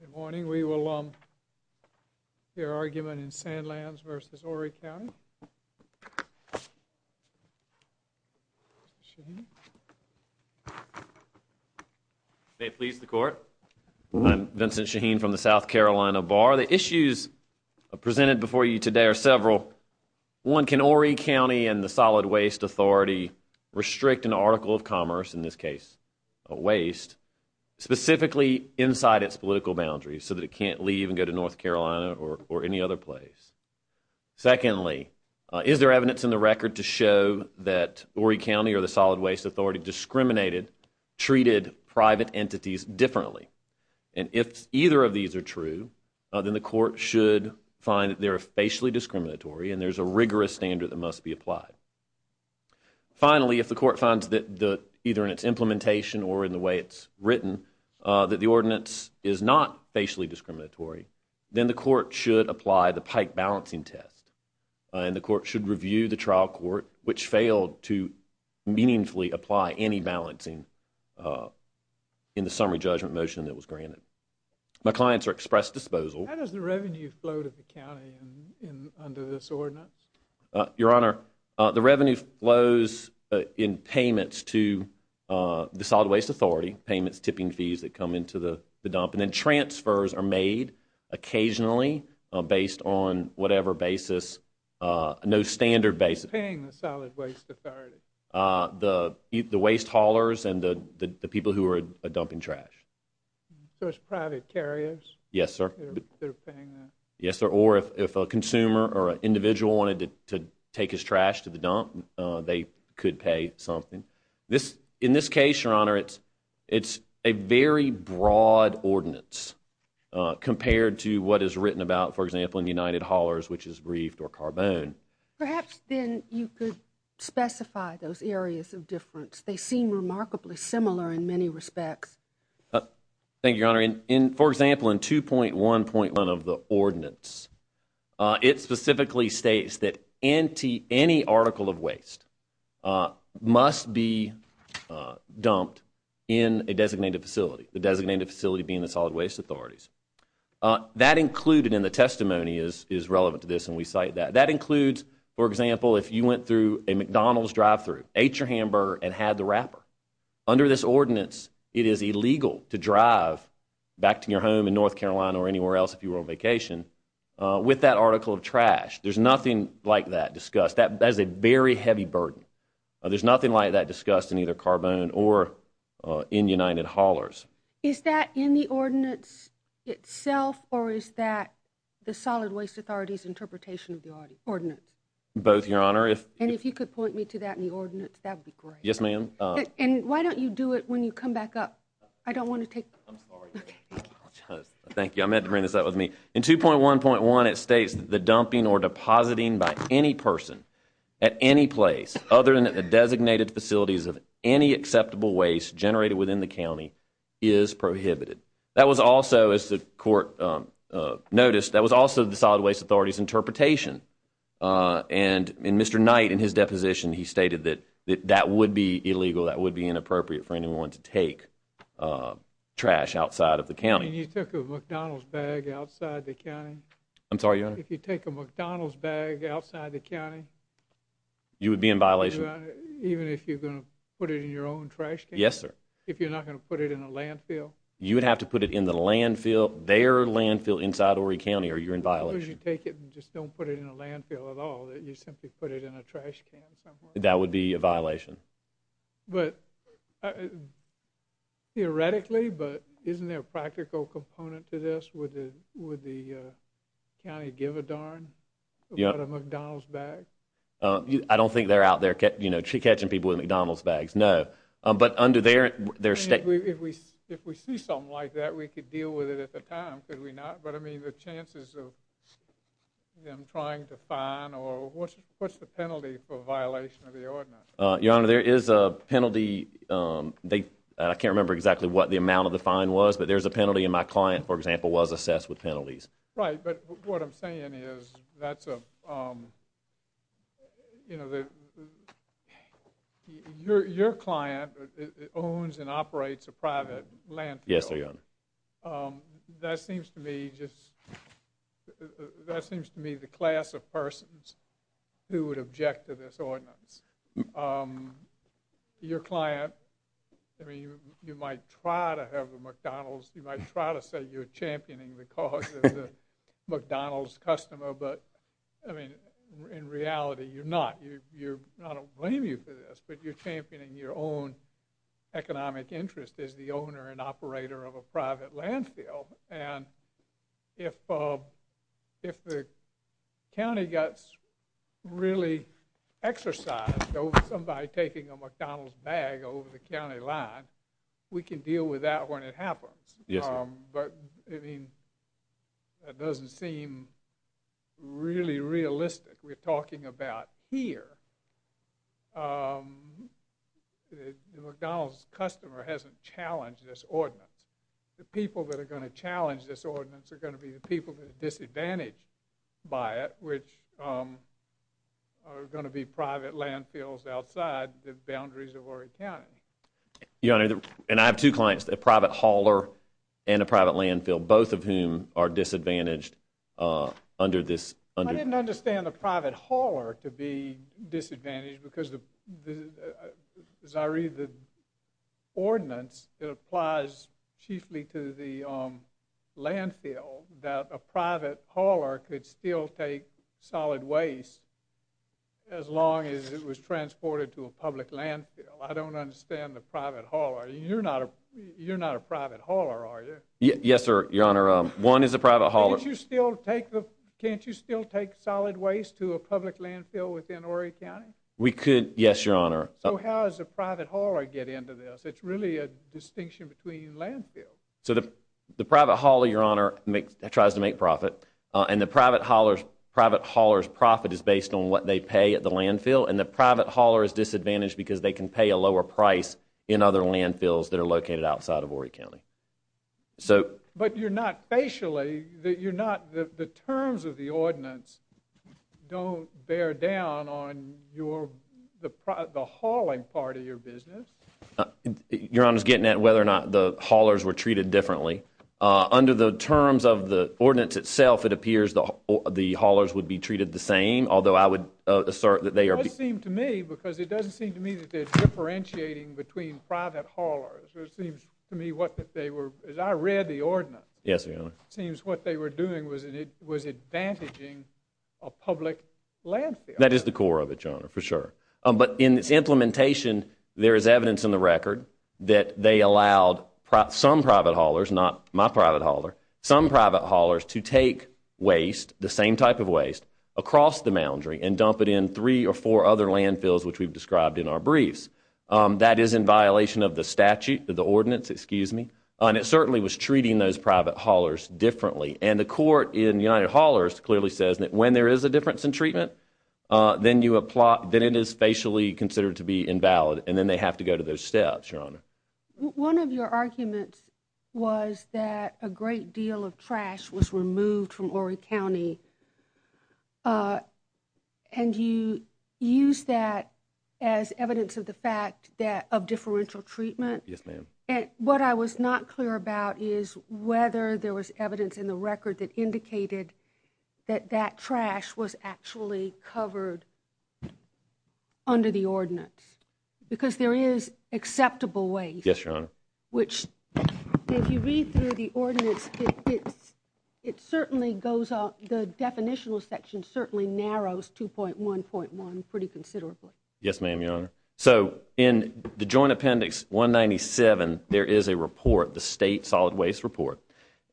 Good morning. We will hear argument in Sandlands v. Horry County. May it please the Court, I'm Vincent Shaheen from the South Carolina Bar. The issues presented before you today are several. One, can Horry County and the Solid Waste Authority restrict an article of commerce, in this case a waste, specifically inside its political boundaries so that it can't leave and go to North Carolina or any other place? Secondly, is there evidence in the record to show that Horry County or the Solid Waste Authority discriminated, treated private entities differently? And if either of these are true, then the Court should find that they are facially discriminatory and there's a rigorous standard that must be applied. Finally, if the Court finds that either in its implementation or in the way it's written, that the ordinance is not facially discriminatory, then the Court should apply the Pike balancing test and the Court should review the trial court, which failed to meaningfully apply any balancing in the summary judgment motion that was granted. My clients are expressed disposal. How does the revenue flow to the county under this ordinance? Your Honor, the revenue flows in payments to the Solid Waste Authority, payments, tipping fees that come into the dump, and then transfers are made occasionally based on whatever basis, no standard basis. Who's paying the Solid Waste Authority? The waste haulers and the people who are dumping trash. So it's private carriers? Yes, sir. Or if a consumer or an individual wanted to take his trash to the dump, they could pay something. In this case, Your Honor, it's a very broad ordinance compared to what is written about, for example, in United Haulers, which is briefed or carbone. Perhaps then you could specify those areas of difference. They seem remarkably similar in many respects. Thank you, Your Honor. For example, in 2.1.1 of the ordinance, it specifically states that any article of waste must be dumped in a designated facility, the designated facility being the Solid Waste Authorities. That included in the testimony is relevant to this and we cite that. That includes, for example, if you went through a McDonald's drive-thru, ate your hamburger, and had the wrapper. Under this ordinance, it is illegal to drive back to your home in North Carolina or anywhere else if you were on vacation with that article of trash. There's nothing like that discussed. That is a very heavy burden. There's nothing like that discussed in either Carbone or in United Haulers. Is that in the ordinance itself or is that the Solid Waste Authority's interpretation of the ordinance? Both, Your Honor. And if you could point me to that in the ordinance, that would be great. Yes, ma'am. And why don't you do it when you come back up? I don't want to take I'm sorry. Thank you. I meant to bring this up with me. In 2.1.1, it states that the dumping or depositing by any person at any place other than at the designated facilities of any acceptable waste generated within the county is prohibited. That was also, as the court noticed, that was And Mr. Knight, in his deposition, he stated that that would be illegal. That would be inappropriate for anyone to take trash outside of the county. You took a McDonald's bag outside the county. I'm sorry, Your Honor. If you take a McDonald's bag outside the county. You would be in violation. Even if you're going to put it in your own trash can? Yes, sir. If you're not going to put it in a landfill? You would have to put it in the landfill, their landfill inside Horry County or you're in violation. You take it and just don't put it in a landfill at all that you simply put it in a trash can. That would be a violation. But theoretically, but isn't there a practical component to this with the with the county give a darn McDonald's bag? I don't think they're out there, you know, she catching people with McDonald's bags. No, but under their their state, if we if we see something like that, we could deal with it at the time. Could we not? But I mean, the chances of them trying to find or what's what's the penalty for violation of the ordinance? Your Honor, there is a penalty. Um, they I can't remember exactly what the amount of the fine was, but there's a penalty in my client, for example, was assessed with penalties, right? But what I'm saying is that's a, um, you know, the your your client owns and operates a private land. Yes, they are. Um, that seems to me just that seems to me the class of persons who would object to this ordinance. Um, your client, I mean, you might try to have a McDonald's. You might try to say you're championing the cause of the McDonald's customer. But I mean, in reality, you're not. You're not a blame you for this, but you're championing your own economic interest is the owner and operator of a private landfill. And if, uh, if the county gets really exercised over somebody taking a McDonald's bag over the county line, we can deal with that when it happens. Yes. But I mean, that doesn't seem really realistic. We're talking about here. Um, McDonald's customer hasn't challenged this ordinance. The people that are going to challenge this ordinance are going to be the people that are disadvantaged by it, which, um, are going to be private landfills outside the boundaries of our accounting. Your Honor, and I have two clients, the private hauler and a private landfill, both of whom are disadvantaged, uh, under this. I didn't understand the private hauler to be disadvantaged because the as I read the ordinance, it applies chiefly to the landfill that a private hauler could still take solid waste as long as it was transported to a public landfill. I don't understand the private hauler. You're not. You're not a private hauler, are you? Yes, sir. Your Honor. One is a private hauler. You still take the Can't you still take solid waste to a public landfill within Horry County? We could. Yes, Your Honor. So how is a private hauler get into this? It's really a distinction between landfill. So the private hauler, Your Honor, tries to make profit on the private haulers. Private haulers profit is based on what they pay at the landfill, and the private hauler is disadvantaged because they can pay a lower price in other landfills that are located outside of Horry County. So but you're not facially that you're not. The terms of the ordinance don't bear down on your the the hauling part of your business. Your Honor's getting at whether or not the haulers were treated differently under the terms of the ordinance itself. It appears the the haulers would be treated the same, although I would assert that they are seem to me because it doesn't seem to me that they're differentiating between private haulers. It seems to me what they were as I read the ordinance. Yes, Your Honor. Seems what they were doing was it was advantaging a public landfill. That is the core of it, Your Honor, for sure. But in its implementation, there is evidence in the record that they allowed some private haulers, not my private hauler, some private haulers to take waste, the same type of waste, across the boundary and dump it in three or four other landfills which we've described in our briefs. That is in violation of the statute, the ordinance, excuse me. And it certainly was treating those private haulers differently. And the court in United Haulers clearly says that when there is a difference in treatment, then you apply, then it is facially considered to be invalid. And then they have to go to those steps, Your Honor. One of your arguments was that a great of differential treatment. Yes, ma'am. And what I was not clear about is whether there was evidence in the record that indicated that that trash was actually covered under the ordinance. Because there is acceptable ways. Yes, Your Honor. Which if you read through the ordinance, it certainly goes out, the definitional section certainly narrows 2.1.1 pretty considerably. Yes, ma'am, Your Honor. So in the Joint Appendix 197, there is a report, the State Solid Waste Report.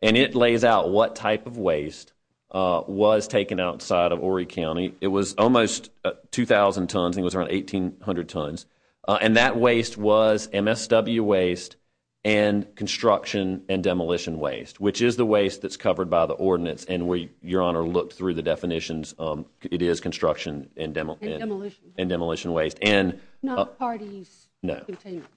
And it lays out what type of waste was taken outside of Horry County. It was almost 2,000 tons. I think it was around 1,800 tons. And that waste was MSW waste and construction and demolition waste, which is the waste that's covered by the ordinance. And we, Your Honor, looked through the definitions. It is construction and demolition waste. Not parties.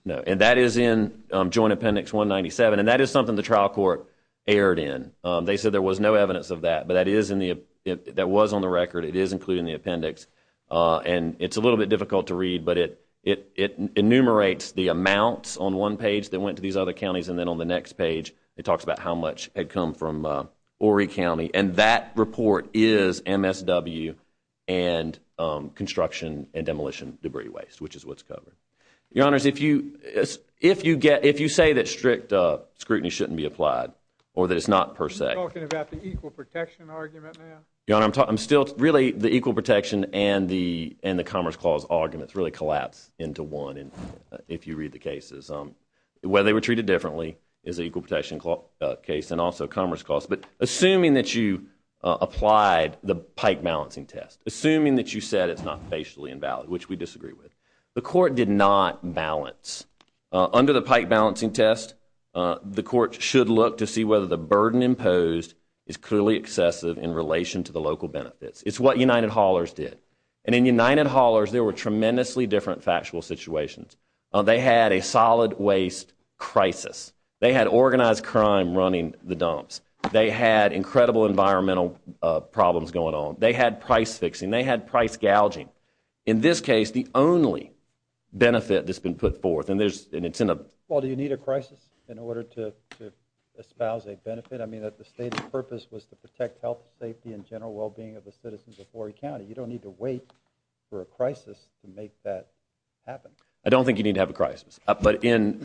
No. And that is in Joint Appendix 197. And that is something the trial court erred in. They said there was no evidence of that. But that was on the record. It is included in the appendix. And it's a little bit difficult to read. But it enumerates the amounts on one page that went to these other counties. And then on the next page, it talks about how much had come from Horry County. And that report is MSW and construction and demolition debris waste, which is what's covered. Your Honor, if you say that strict scrutiny shouldn't be applied or that it's not per se. You're talking about the equal protection argument now? Your Honor, I'm still, really, the equal protection and the Commerce Clause arguments really collapse into one if you read the cases. Whether they were treated differently is an equal protection case and also Commerce Clause. But assuming that you applied the pike balancing test, assuming that you said it's not facially invalid, which we disagree with, the court did not balance. Under the pike balancing test, the court should look to see whether the burden imposed is clearly excessive in relation to the local benefits. It's what United Haulers did. And in United Haulers, there were tremendously different factual situations. They had a solid waste crisis. They had organized crime running the dumps. They had incredible environmental problems going on. They had price fixing. They had price gouging. In this case, the only benefit that's been put forth, and there's an incentive. Well, do you need a crisis in order to espouse a benefit? I mean, that the state's purpose was to protect health, safety, and general well-being of the citizens of Horry County. You don't need to wait for a crisis to make that happen. I don't think you need to have a crisis. But in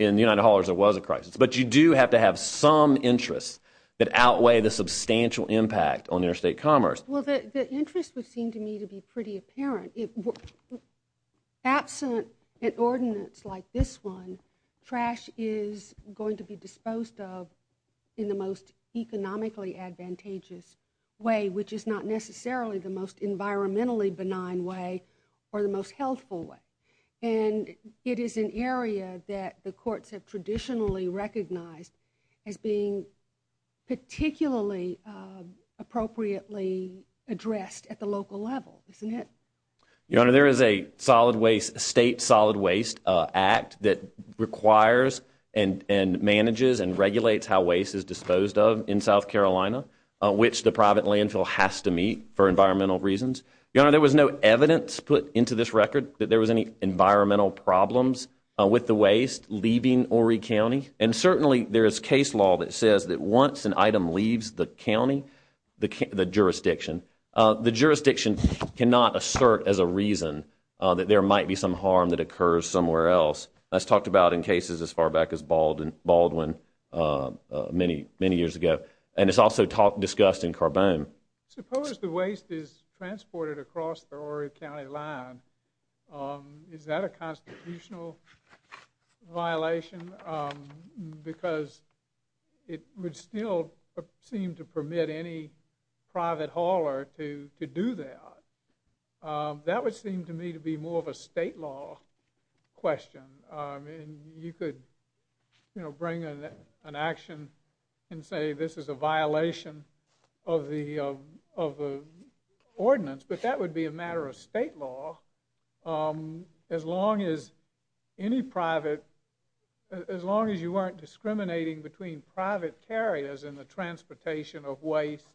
interest that outweigh the substantial impact on interstate commerce. Well, the interest would seem to me to be pretty apparent. Absent an ordinance like this one, trash is going to be disposed of in the most economically advantageous way, which is not necessarily the most environmentally benign way or the most healthful way. And it is an area that courts have traditionally recognized as being particularly appropriately addressed at the local level, isn't it? Your Honor, there is a state solid waste act that requires and manages and regulates how waste is disposed of in South Carolina, which the private landfill has to meet for environmental reasons. Your Honor, there was no evidence put into this record that there was environmental problems with the waste leaving Horry County. And certainly there is case law that says that once an item leaves the county, the jurisdiction, the jurisdiction cannot assert as a reason that there might be some harm that occurs somewhere else. That's talked about in cases as far back as Baldwin many years ago. And it's also discussed in Carbone. Suppose the waste is transported across the Horry County line. Is that a constitutional violation? Because it would still seem to permit any private hauler to do that. That would seem to me to be more of a state law question. And you could, you know, bring an action and say this is a violation of the of the ordinance. But that would be a matter of state law. As long as any private, as long as you weren't discriminating between private carriers in the transportation of waste,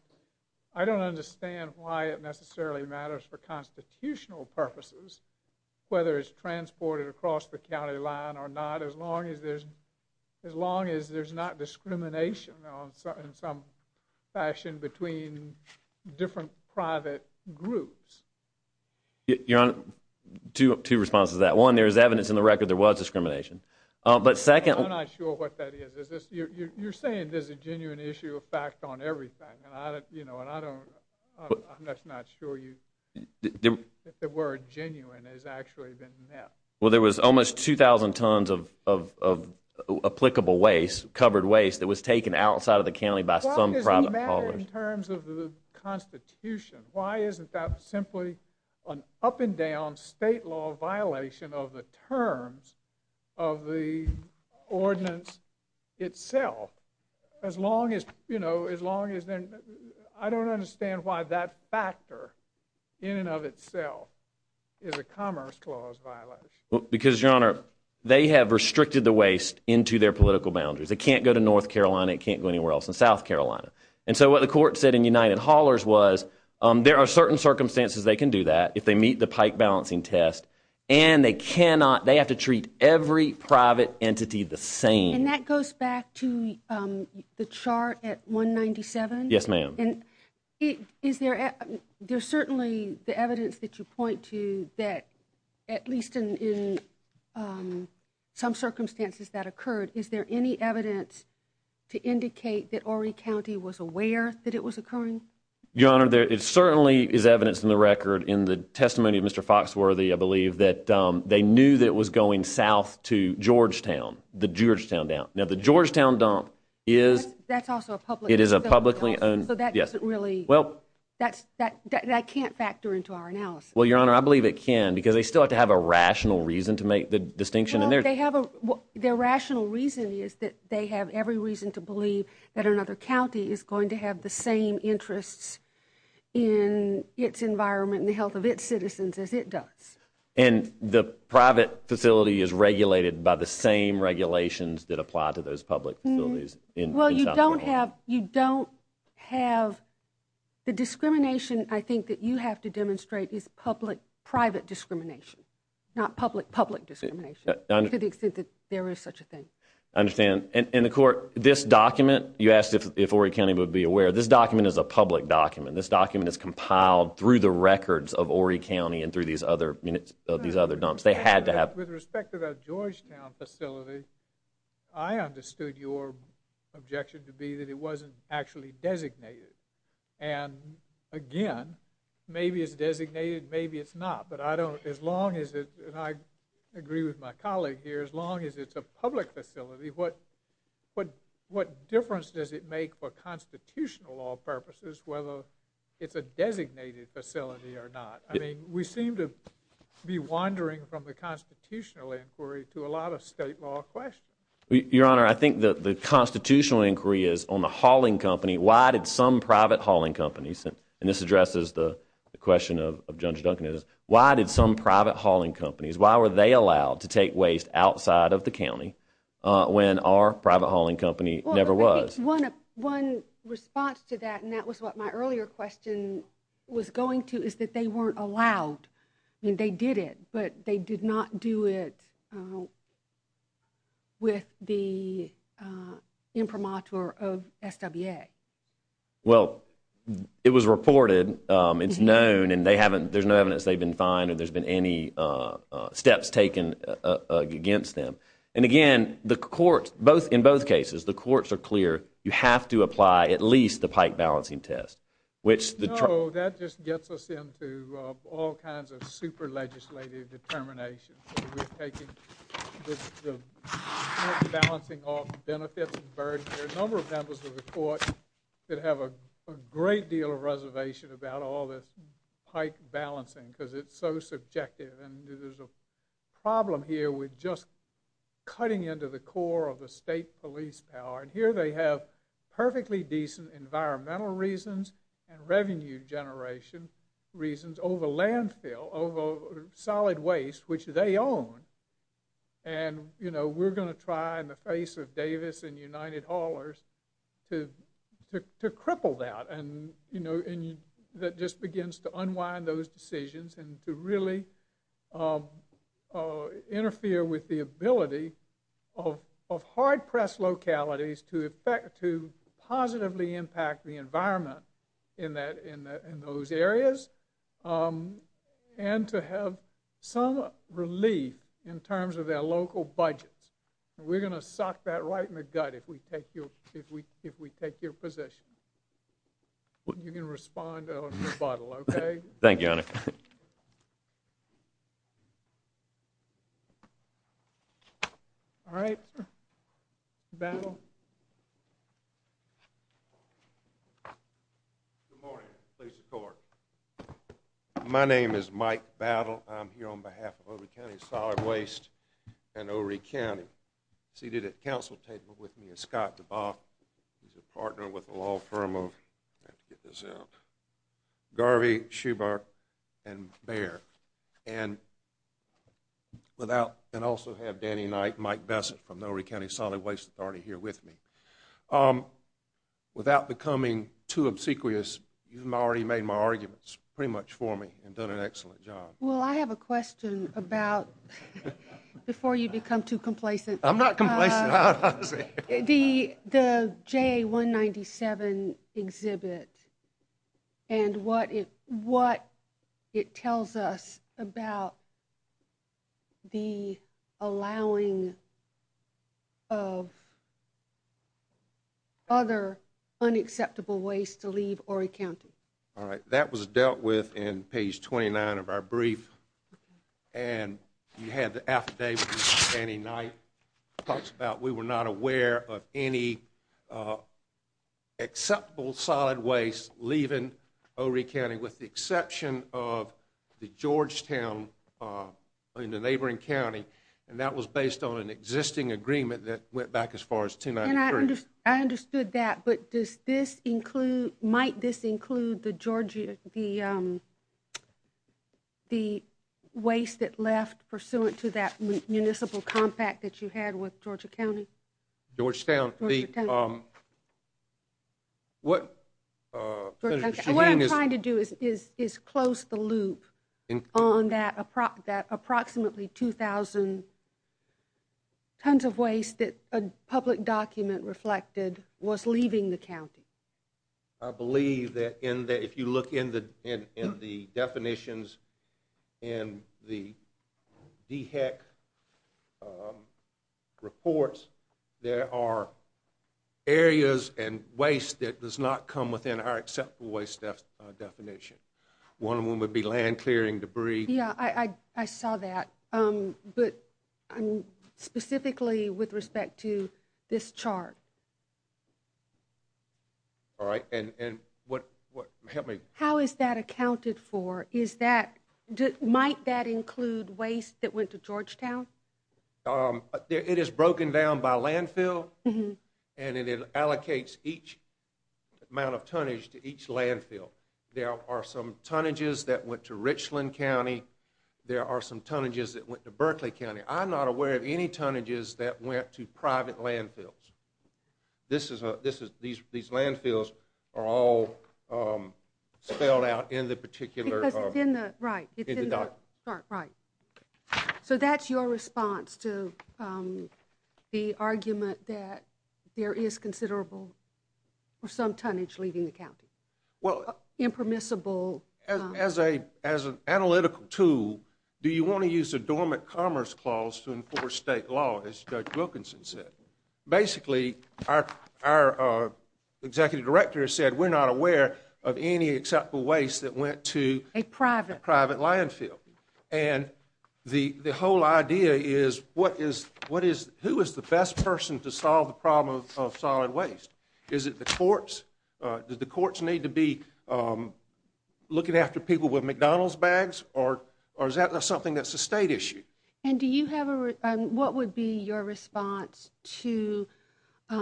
I don't understand why it necessarily matters for constitutional purposes, whether it's transported across the county line or not, as long as there's, not discrimination in some fashion between different private groups. Your Honor, two responses to that. One, there is evidence in the record there was discrimination. But second, I'm not sure what that is. You're saying there's a genuine issue of fact on everything. And I don't, you know, and I don't, I'm just not sure you, if the word genuine has actually been met. Well, there was almost 2,000 tons of applicable waste, covered waste that was taken outside of the county by some private haulers. In terms of the Constitution, why isn't that simply an up and down state law violation of the terms of the ordinance itself? As long as, you know, as long as I don't understand why that factor in and of itself is a Commerce Clause violation. Because, Your Honor, they have restricted the waste into their political boundaries. It can't go to North Carolina, it can't go anywhere else in South Carolina. And so what the court said in United Haulers was, there are certain circumstances they can do that if they meet the pike balancing test. And they cannot, they have to treat every private entity the same. And that goes back to the chart at 197. Yes, ma'am. And is there, there's certainly the evidence that you point to that at least in um, some circumstances that occurred, is there any evidence to indicate that Horry County was aware that it was occurring? Your Honor, there certainly is evidence in the record in the testimony of Mr. Foxworthy, I believe, that they knew that it was going south to Georgetown, the Georgetown dump. Now, the Georgetown dump is... That's also a publicly owned dump. It is a publicly owned... So that doesn't really... Well... That's, that can't factor into our analysis. Your Honor, I believe it can, because they still have to have a rational reason to make the distinction. Well, they have a, their rational reason is that they have every reason to believe that another county is going to have the same interests in its environment and the health of its citizens as it does. And the private facility is regulated by the same regulations that apply to those public facilities in South Carolina. Well, you don't have, you don't have, the discrimination I think that you have to public-private discrimination, not public-public discrimination to the extent that there is such a thing. I understand. And the court, this document, you asked if Horry County would be aware, this document is a public document. This document is compiled through the records of Horry County and through these other units of these other dumps. They had to have... With respect to the Georgetown facility, I understood your objection to be that it wasn't actually designated. And again, maybe it's designated, maybe it's not. But I don't, as long as it, and I agree with my colleague here, as long as it's a public facility, what, what difference does it make for constitutional law purposes whether it's a designated facility or not? I mean, we seem to be wandering from the constitutional inquiry to a lot of state law questions. Your Honor, I think that the constitutional inquiry is on the hauling company. Why did some private hauling companies, and this addresses the question of Judge Duncan, is why did some private hauling companies, why were they allowed to take waste outside of the county when our private hauling company never was? Well, I think one response to that, and that was what my earlier question was going to, is that they weren't allowed. I mean, they did it, but they did not do it with the imprimatur of SWA. Well, it was reported, it's known, and they haven't, there's no evidence they've been fined or there's been any steps taken against them. And again, the courts, both, in both cases, the courts are clear, you have to apply at least the pike balancing test, which the... So that just gets us into all kinds of super legislative determinations. We're taking the pike balancing off benefits and burden. There are a number of members of the court that have a great deal of reservation about all this pike balancing, because it's so subjective, and there's a problem here with just cutting into the core of the state police power, and here they have perfectly decent environmental reasons and revenue generation reasons over landfill, over solid waste, which they own. And we're going to try in the face of Davis and United Haulers to cripple that, and that just begins to unwind those decisions and to really interfere with the ability of hard to impact the environment in those areas, and to have some relief in terms of their local budgets. We're going to suck that right in the gut if we take your position. You can respond on rebuttal, okay? Thank you, Honor. All right. Battle. Good morning, police and court. My name is Mike Battle. I'm here on behalf of Horry County Solid Waste and Horry County. Seated at the council table with me is Scott DeBoff. He's a partner with the law firm of, I have to get this out, Garvey, Schubert, and Bair. And without, and also have Danny Knight and Mike Bessett from the Horry County Solid Waste Authority here with me. Without becoming too obsequious, you've already made my arguments pretty much for me and done an excellent job. Well, I have a question about, before you become too complacent. I'm not complacent. The JA-197 exhibit and what it tells us about the allowing of other unacceptable waste to leave Horry County. All right. That was dealt with in page 29 of our brief. And you had the affidavit Danny Knight talks about. We were not aware of any acceptable solid waste leaving Horry County with the exception of the Georgetown in the neighboring county. And that was based on an existing agreement that went back as far as 293. I understood that, but does this include, might this include the Georgia, the waste that left pursuant to that municipal compact that you had with Georgia County? Georgetown. What I'm trying to do is close the loop on that approximately 2,000 tons of waste that a public document reflected was leaving the county. I believe that if you look in the definitions in the DHEC reports, there are areas and waste that does not come within our acceptable waste definition. One of them would be land clearing debris. Yeah, I saw that. But specifically with respect to this chart. All right. And what, help me. How is that accounted for? Is that, might that include waste that went to Georgetown? It is broken down by landfill and it allocates each amount of tonnage to each landfill. There are some tonnages that went to Richland County. There are some tonnages that went to Berkeley County. I'm not aware of any tonnages that went to private landfills. This is a, this is, these landfills are all spelled out in the particular. Because it's in the, right, it's in the, sorry, right. So that's your response to the argument that there is considerable or some tonnage leaving the county? Well. Impermissible. As a, as an analytical tool, do you want to use a dormant commerce clause to enforce state law, as Judge Wilkinson said? Basically, our, our executive director said we're not aware of any acceptable waste that went to a private, private landfill. And the, the whole idea is what is, what is, who is the best person to solve the problem of solid waste? Is it the courts? Do the courts need to be looking after people with McDonald's bags? Or, or is that something that's a state issue? And do you have a, what would be your response to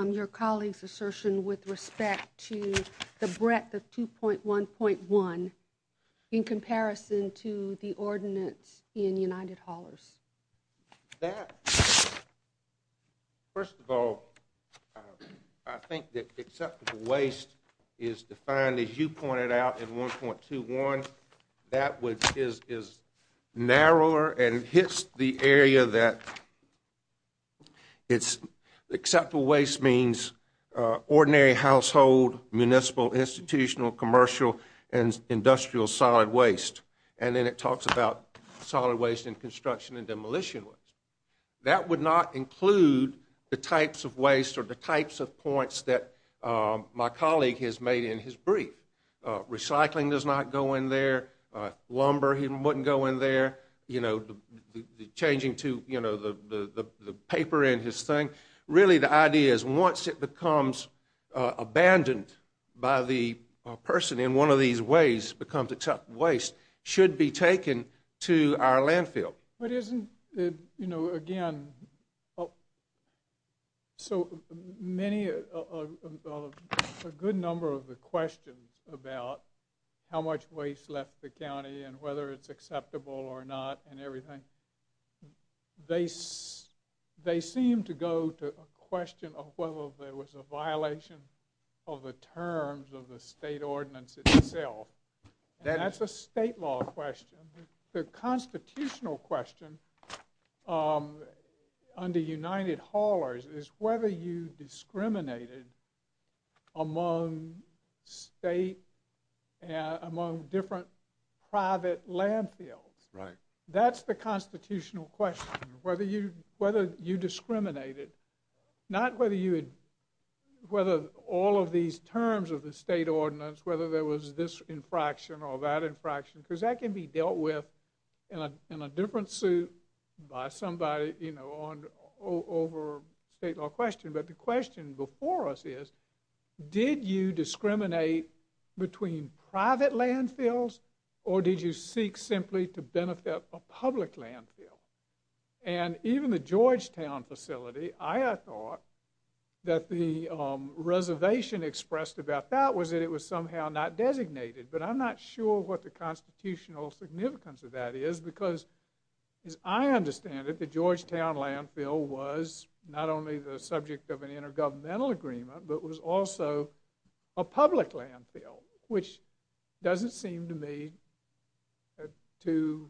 your colleague's assertion with respect to the breadth of 2.1.1 in comparison to the ordinance in United Haulers? That, first of all, I think that acceptable waste is defined, as you pointed out, in 1.21. That would, is, is narrower and hits the area that it's, acceptable waste means ordinary household, municipal, institutional, commercial, and industrial solid waste. And then it talks about solid waste in construction and demolition waste. That would not include the types of waste or the types of points that my colleague has made in his brief. Recycling does not go in there. Lumber, he wouldn't go in there. You know, the, the changing to, you know, the, the, the paper in his thing. Really, the idea is once it becomes abandoned by the person in one of these ways, becomes acceptable waste, should be taken to our landfill. But isn't it, you know, again, so many, a good number of the questions about how much waste left the county and whether it's acceptable or not and everything. They, they seem to go to a question of whether there was a violation of the terms of the state ordinance itself. That's a state law question. The constitutional question under United Haulers is whether you discriminated among state and among different private landfills. Right. That's the constitutional question. Whether you, whether you discriminated, not whether you had, whether all of these terms of the state ordinance, whether there was this infraction or that infraction. Because that can be dealt with in a, in a different suit by somebody, you know, on, over state law question. But the question before us is, did you discriminate between private landfills or did you seek simply to benefit a public landfill? And even the Georgetown facility, I thought that the reservation expressed about that it was somehow not designated. But I'm not sure what the constitutional significance of that is because, as I understand it, the Georgetown landfill was not only the subject of an intergovernmental agreement, but was also a public landfill, which doesn't seem to me to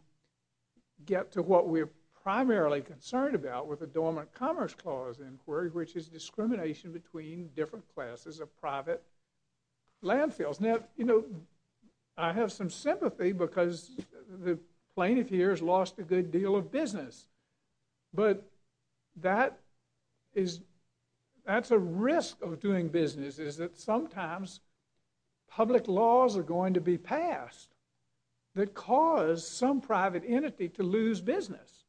get to what we're primarily concerned about with the Dormant Commerce Clause inquiry, which is discrimination between different classes of private landfills. Now, you know, I have some sympathy because the plaintiff here has lost a good deal of business, but that is, that's a risk of doing business is that sometimes public laws are going to be passed that cause some private entity to lose business.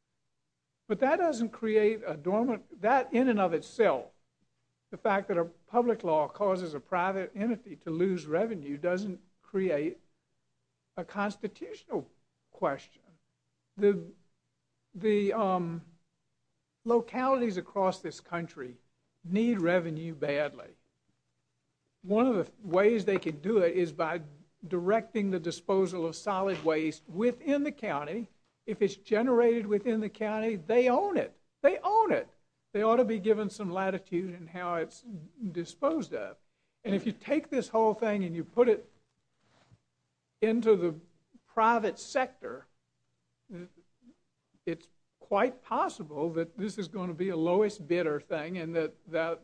But that doesn't create a dormant, that in and of itself, the fact that a public law causes a private entity to lose revenue doesn't create a constitutional question. The, the localities across this country need revenue badly. One of the ways they could do it is by directing the disposal of solid waste within the county if it's generated within the county, they own it. They own it. They ought to be given some latitude in how it's disposed of. And if you take this whole thing and you put it into the private sector, it's quite possible that this is going to be a lowest bidder thing and that the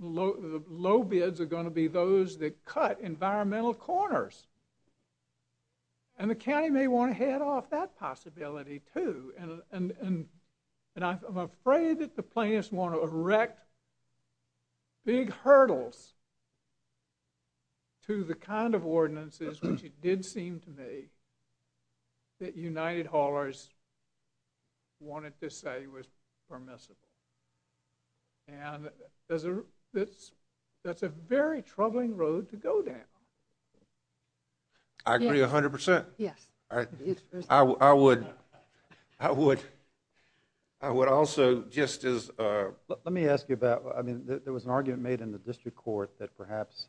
low bids are going to be those that cut environmental corners. And the county may want to head off that possibility, too, and I'm afraid that the plaintiffs want to erect big hurdles to the kind of ordinances, which it did seem to me, that United Haulers wanted to say was permissible. And there's a, that's a very troubling road to go down. I agree 100 percent. Yes. I, I would, I would, I would also just as. Let me ask you about, I mean, there was an argument made in the district court that perhaps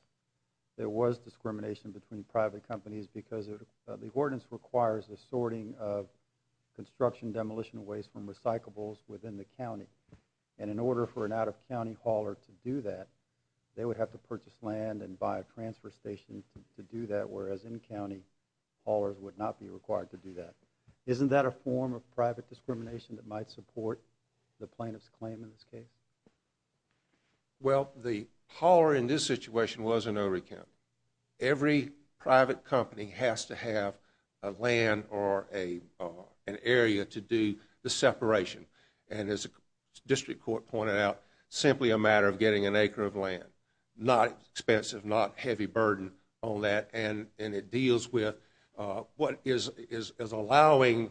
there was discrimination between private companies because the ordinance requires the sorting of construction demolition waste from recyclables within the county. And in order for an out-of-county hauler to do that, they would have to purchase land and buy a transfer station to do that, whereas in-county haulers would not be required to do that. Isn't that a form of private discrimination that might support the plaintiff's claim in this case? Well, the hauler in this situation was an Ory County. Every private company has to have a land or an area to do the separation. And as the district court pointed out, simply a matter of getting an acre of land. Not expensive, not heavy burden on that. And it deals with what is allowing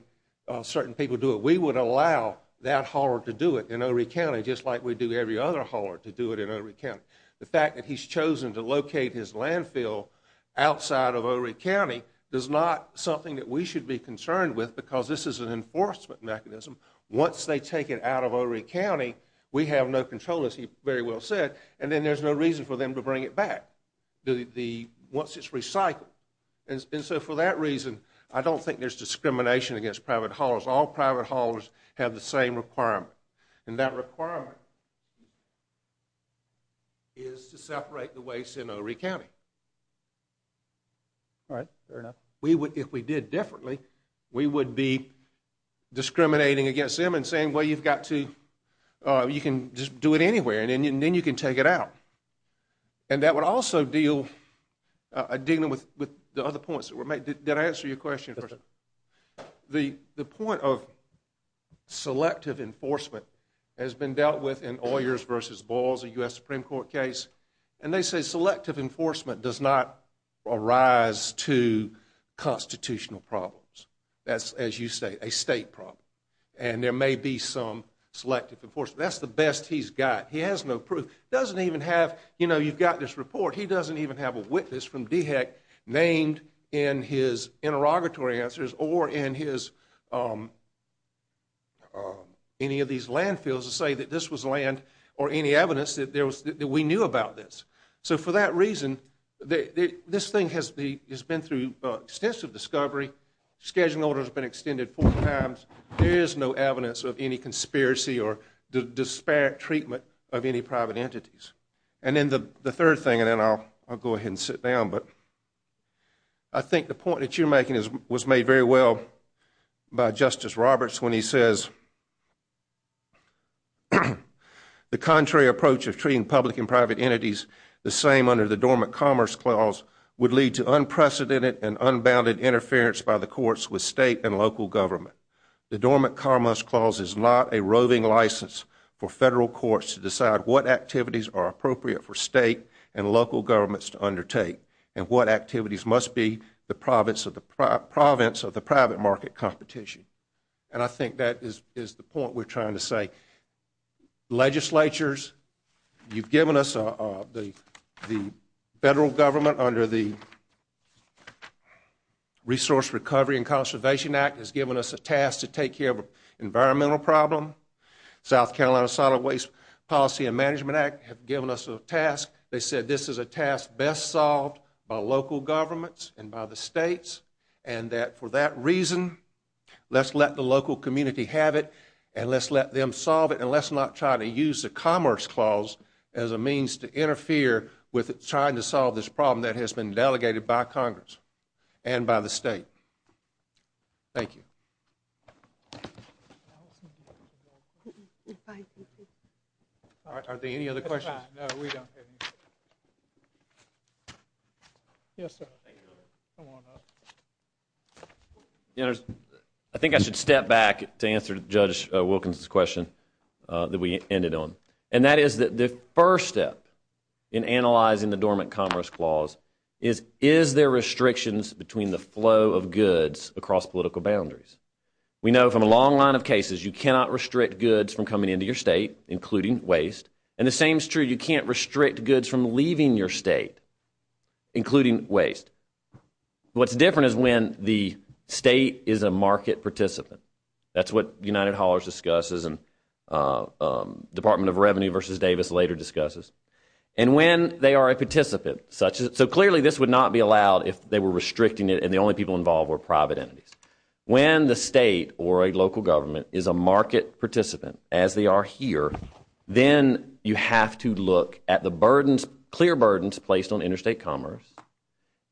certain people to do it. We would allow that hauler to do it in Ory County just like we do every other hauler to do it in Ory County. The fact that he's chosen to locate his landfill outside of Ory County is not something that we should be concerned with because this is an enforcement mechanism. Once they take it out of Ory County, we have no control, as he very well said, and then there's no reason for them to bring it back once it's recycled. And so for that reason, I don't think there's discrimination against private haulers. All private haulers have the same requirement. And that requirement is to separate the waste in Ory County. All right. Fair enough. We would, if we did differently, we would be discriminating against them and saying, well, you've got to, you can just do it anywhere and then you can take it out. And that would also deal, dealing with the other points that were made. Did I answer your question? The point of selective enforcement has been dealt with in Oyers versus Boyles, a U.S. Supreme Court case, and they say selective enforcement does not arise to constitutional problems. That's, as you say, a state problem. And there may be some selective enforcement. That's the best he's got. He has no proof. Doesn't even have, you know, you've got this report. He doesn't even have a witness from DHEC named in his interrogatory answers or in his, any of these landfills to say that this was land or any evidence that there was, that we knew about this. So for that reason, this thing has been through extensive discovery. Scheduling order has been extended four times. There is no evidence of any conspiracy or disparate treatment of any private entities. And then the third thing, and then I'll go ahead and sit down, but I think the point that you're making was made very well by Justice Roberts when he says, the contrary approach of treating public and private entities the same under the Dormant Commerce Clause would lead to unprecedented and unbounded interference by the courts with state and local government. The Dormant Commerce Clause is not a roving license for federal courts to decide what activities are appropriate for state and local governments to undertake and what activities must be the province of the private market competition. And I think that is the point we're trying to say. Legislatures, you've given us the federal government under the Resource Recovery and Conservation Act has given us a task to take care of an environmental problem. South Carolina Solid Waste Policy and Management Act have given us a task. They said this is a task best solved by local governments and by the states and that for that reason, let's let the local community have it and let's let them solve it and let's not try to use the Commerce Clause as a means to interfere with trying to solve this problem that has been delegated by Congress and by the state. Thank you. Thank you. All right. Are there any other questions? Yes, sir. I think I should step back to answer Judge Wilkins' question that we ended on. And that is that the first step in analyzing the Dormant Commerce Clause is, is there restrictions between the flow of goods across political boundaries? We know from a long line of cases, you cannot restrict goods from coming into your state, including waste. And the same is true, you can't restrict goods from leaving your state, including waste. What's different is when the state is a market participant. That's what United Haulers discusses and Department of Revenue v. Davis later discusses. And when they are a participant, such as, so clearly this would not be allowed if they were restricting it and the only people involved were private entities. When the state or a local government is a market participant, as they are here, then you have to look at the burdens, clear burdens placed on interstate commerce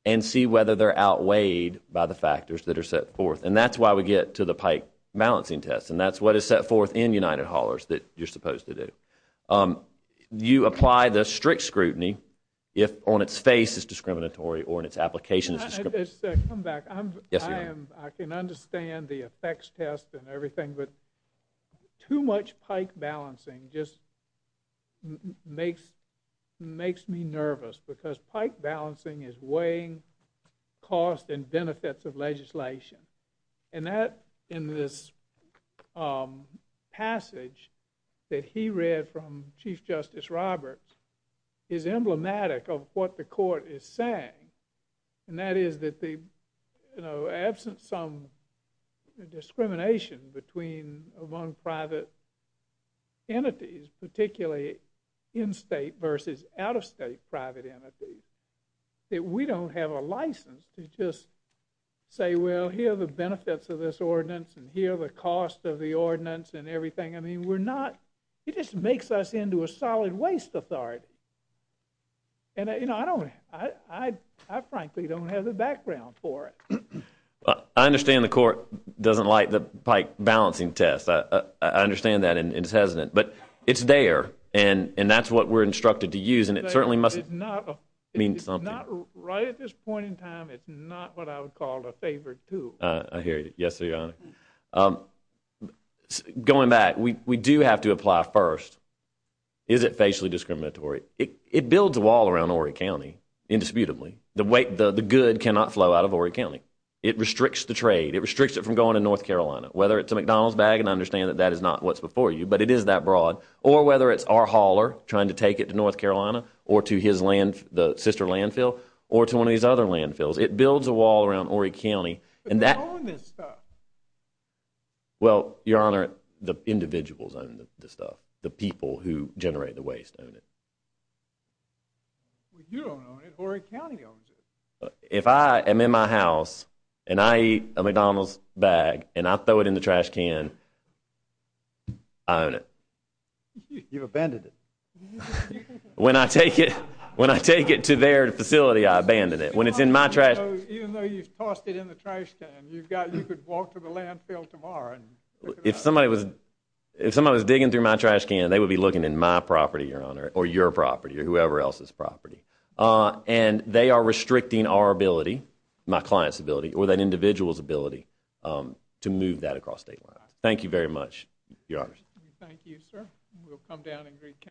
and see whether they're outweighed by the factors that are set forth. And that's why we get to the pike balancing test. And that's what is set forth in United Haulers that you're supposed to do. You apply the strict scrutiny if on its face it's discriminatory or in its application it's discriminatory. Let's come back. I can understand the effects test and everything, but too much pike balancing just makes me nervous because pike balancing is weighing cost and benefits of legislation. And that, in this passage that he read from Chief Justice Roberts, is emblematic of what the court is saying. And that is that absent some discrimination among private entities, particularly in-state versus out-of-state private entities, that we don't have a license to just say, well, here are the benefits of this ordinance and here are the costs of the ordinance and everything. I mean, we're not, it just makes us into a solid waste authority. And, you know, I don't, I frankly don't have the background for it. I understand the court doesn't like the pike balancing test. I understand that and it's hesitant. But it's there and that's what we're instructed to use. And it certainly must mean something. It's not, right at this point in time, it's not what I would call a favored tool. I hear you. Yes, Your Honor. Going back, we do have to apply first. Is it facially discriminatory? It builds a wall around Horry County, indisputably. The weight, the good cannot flow out of Horry County. It restricts the trade. It restricts it from going to North Carolina. Whether it's a McDonald's bag, and I understand that that is not what's before you, but it is that broad. Or whether it's our hauler trying to take it to North Carolina or to his land, the sister landfill, or to one of these other landfills. It builds a wall around Horry County. But they own this stuff. Well, Your Honor, the individuals own the stuff. The people who generate the waste own it. Well, you don't own it. Horry County owns it. If I am in my house, and I eat a McDonald's bag, and I throw it in the trash can, I own it. You've abandoned it. When I take it, when I take it to their facility, I abandon it. When it's in my trash— Even though you've tossed it in the trash can, you've got, you could walk to the landfill tomorrow and— If somebody was, if somebody was digging through my trash can, they would be looking in my property or whoever else's property. And they are restricting our ability, my client's ability, or that individual's ability, to move that across state lines. Thank you very much, Your Honor. Thank you, sir. We'll come down and—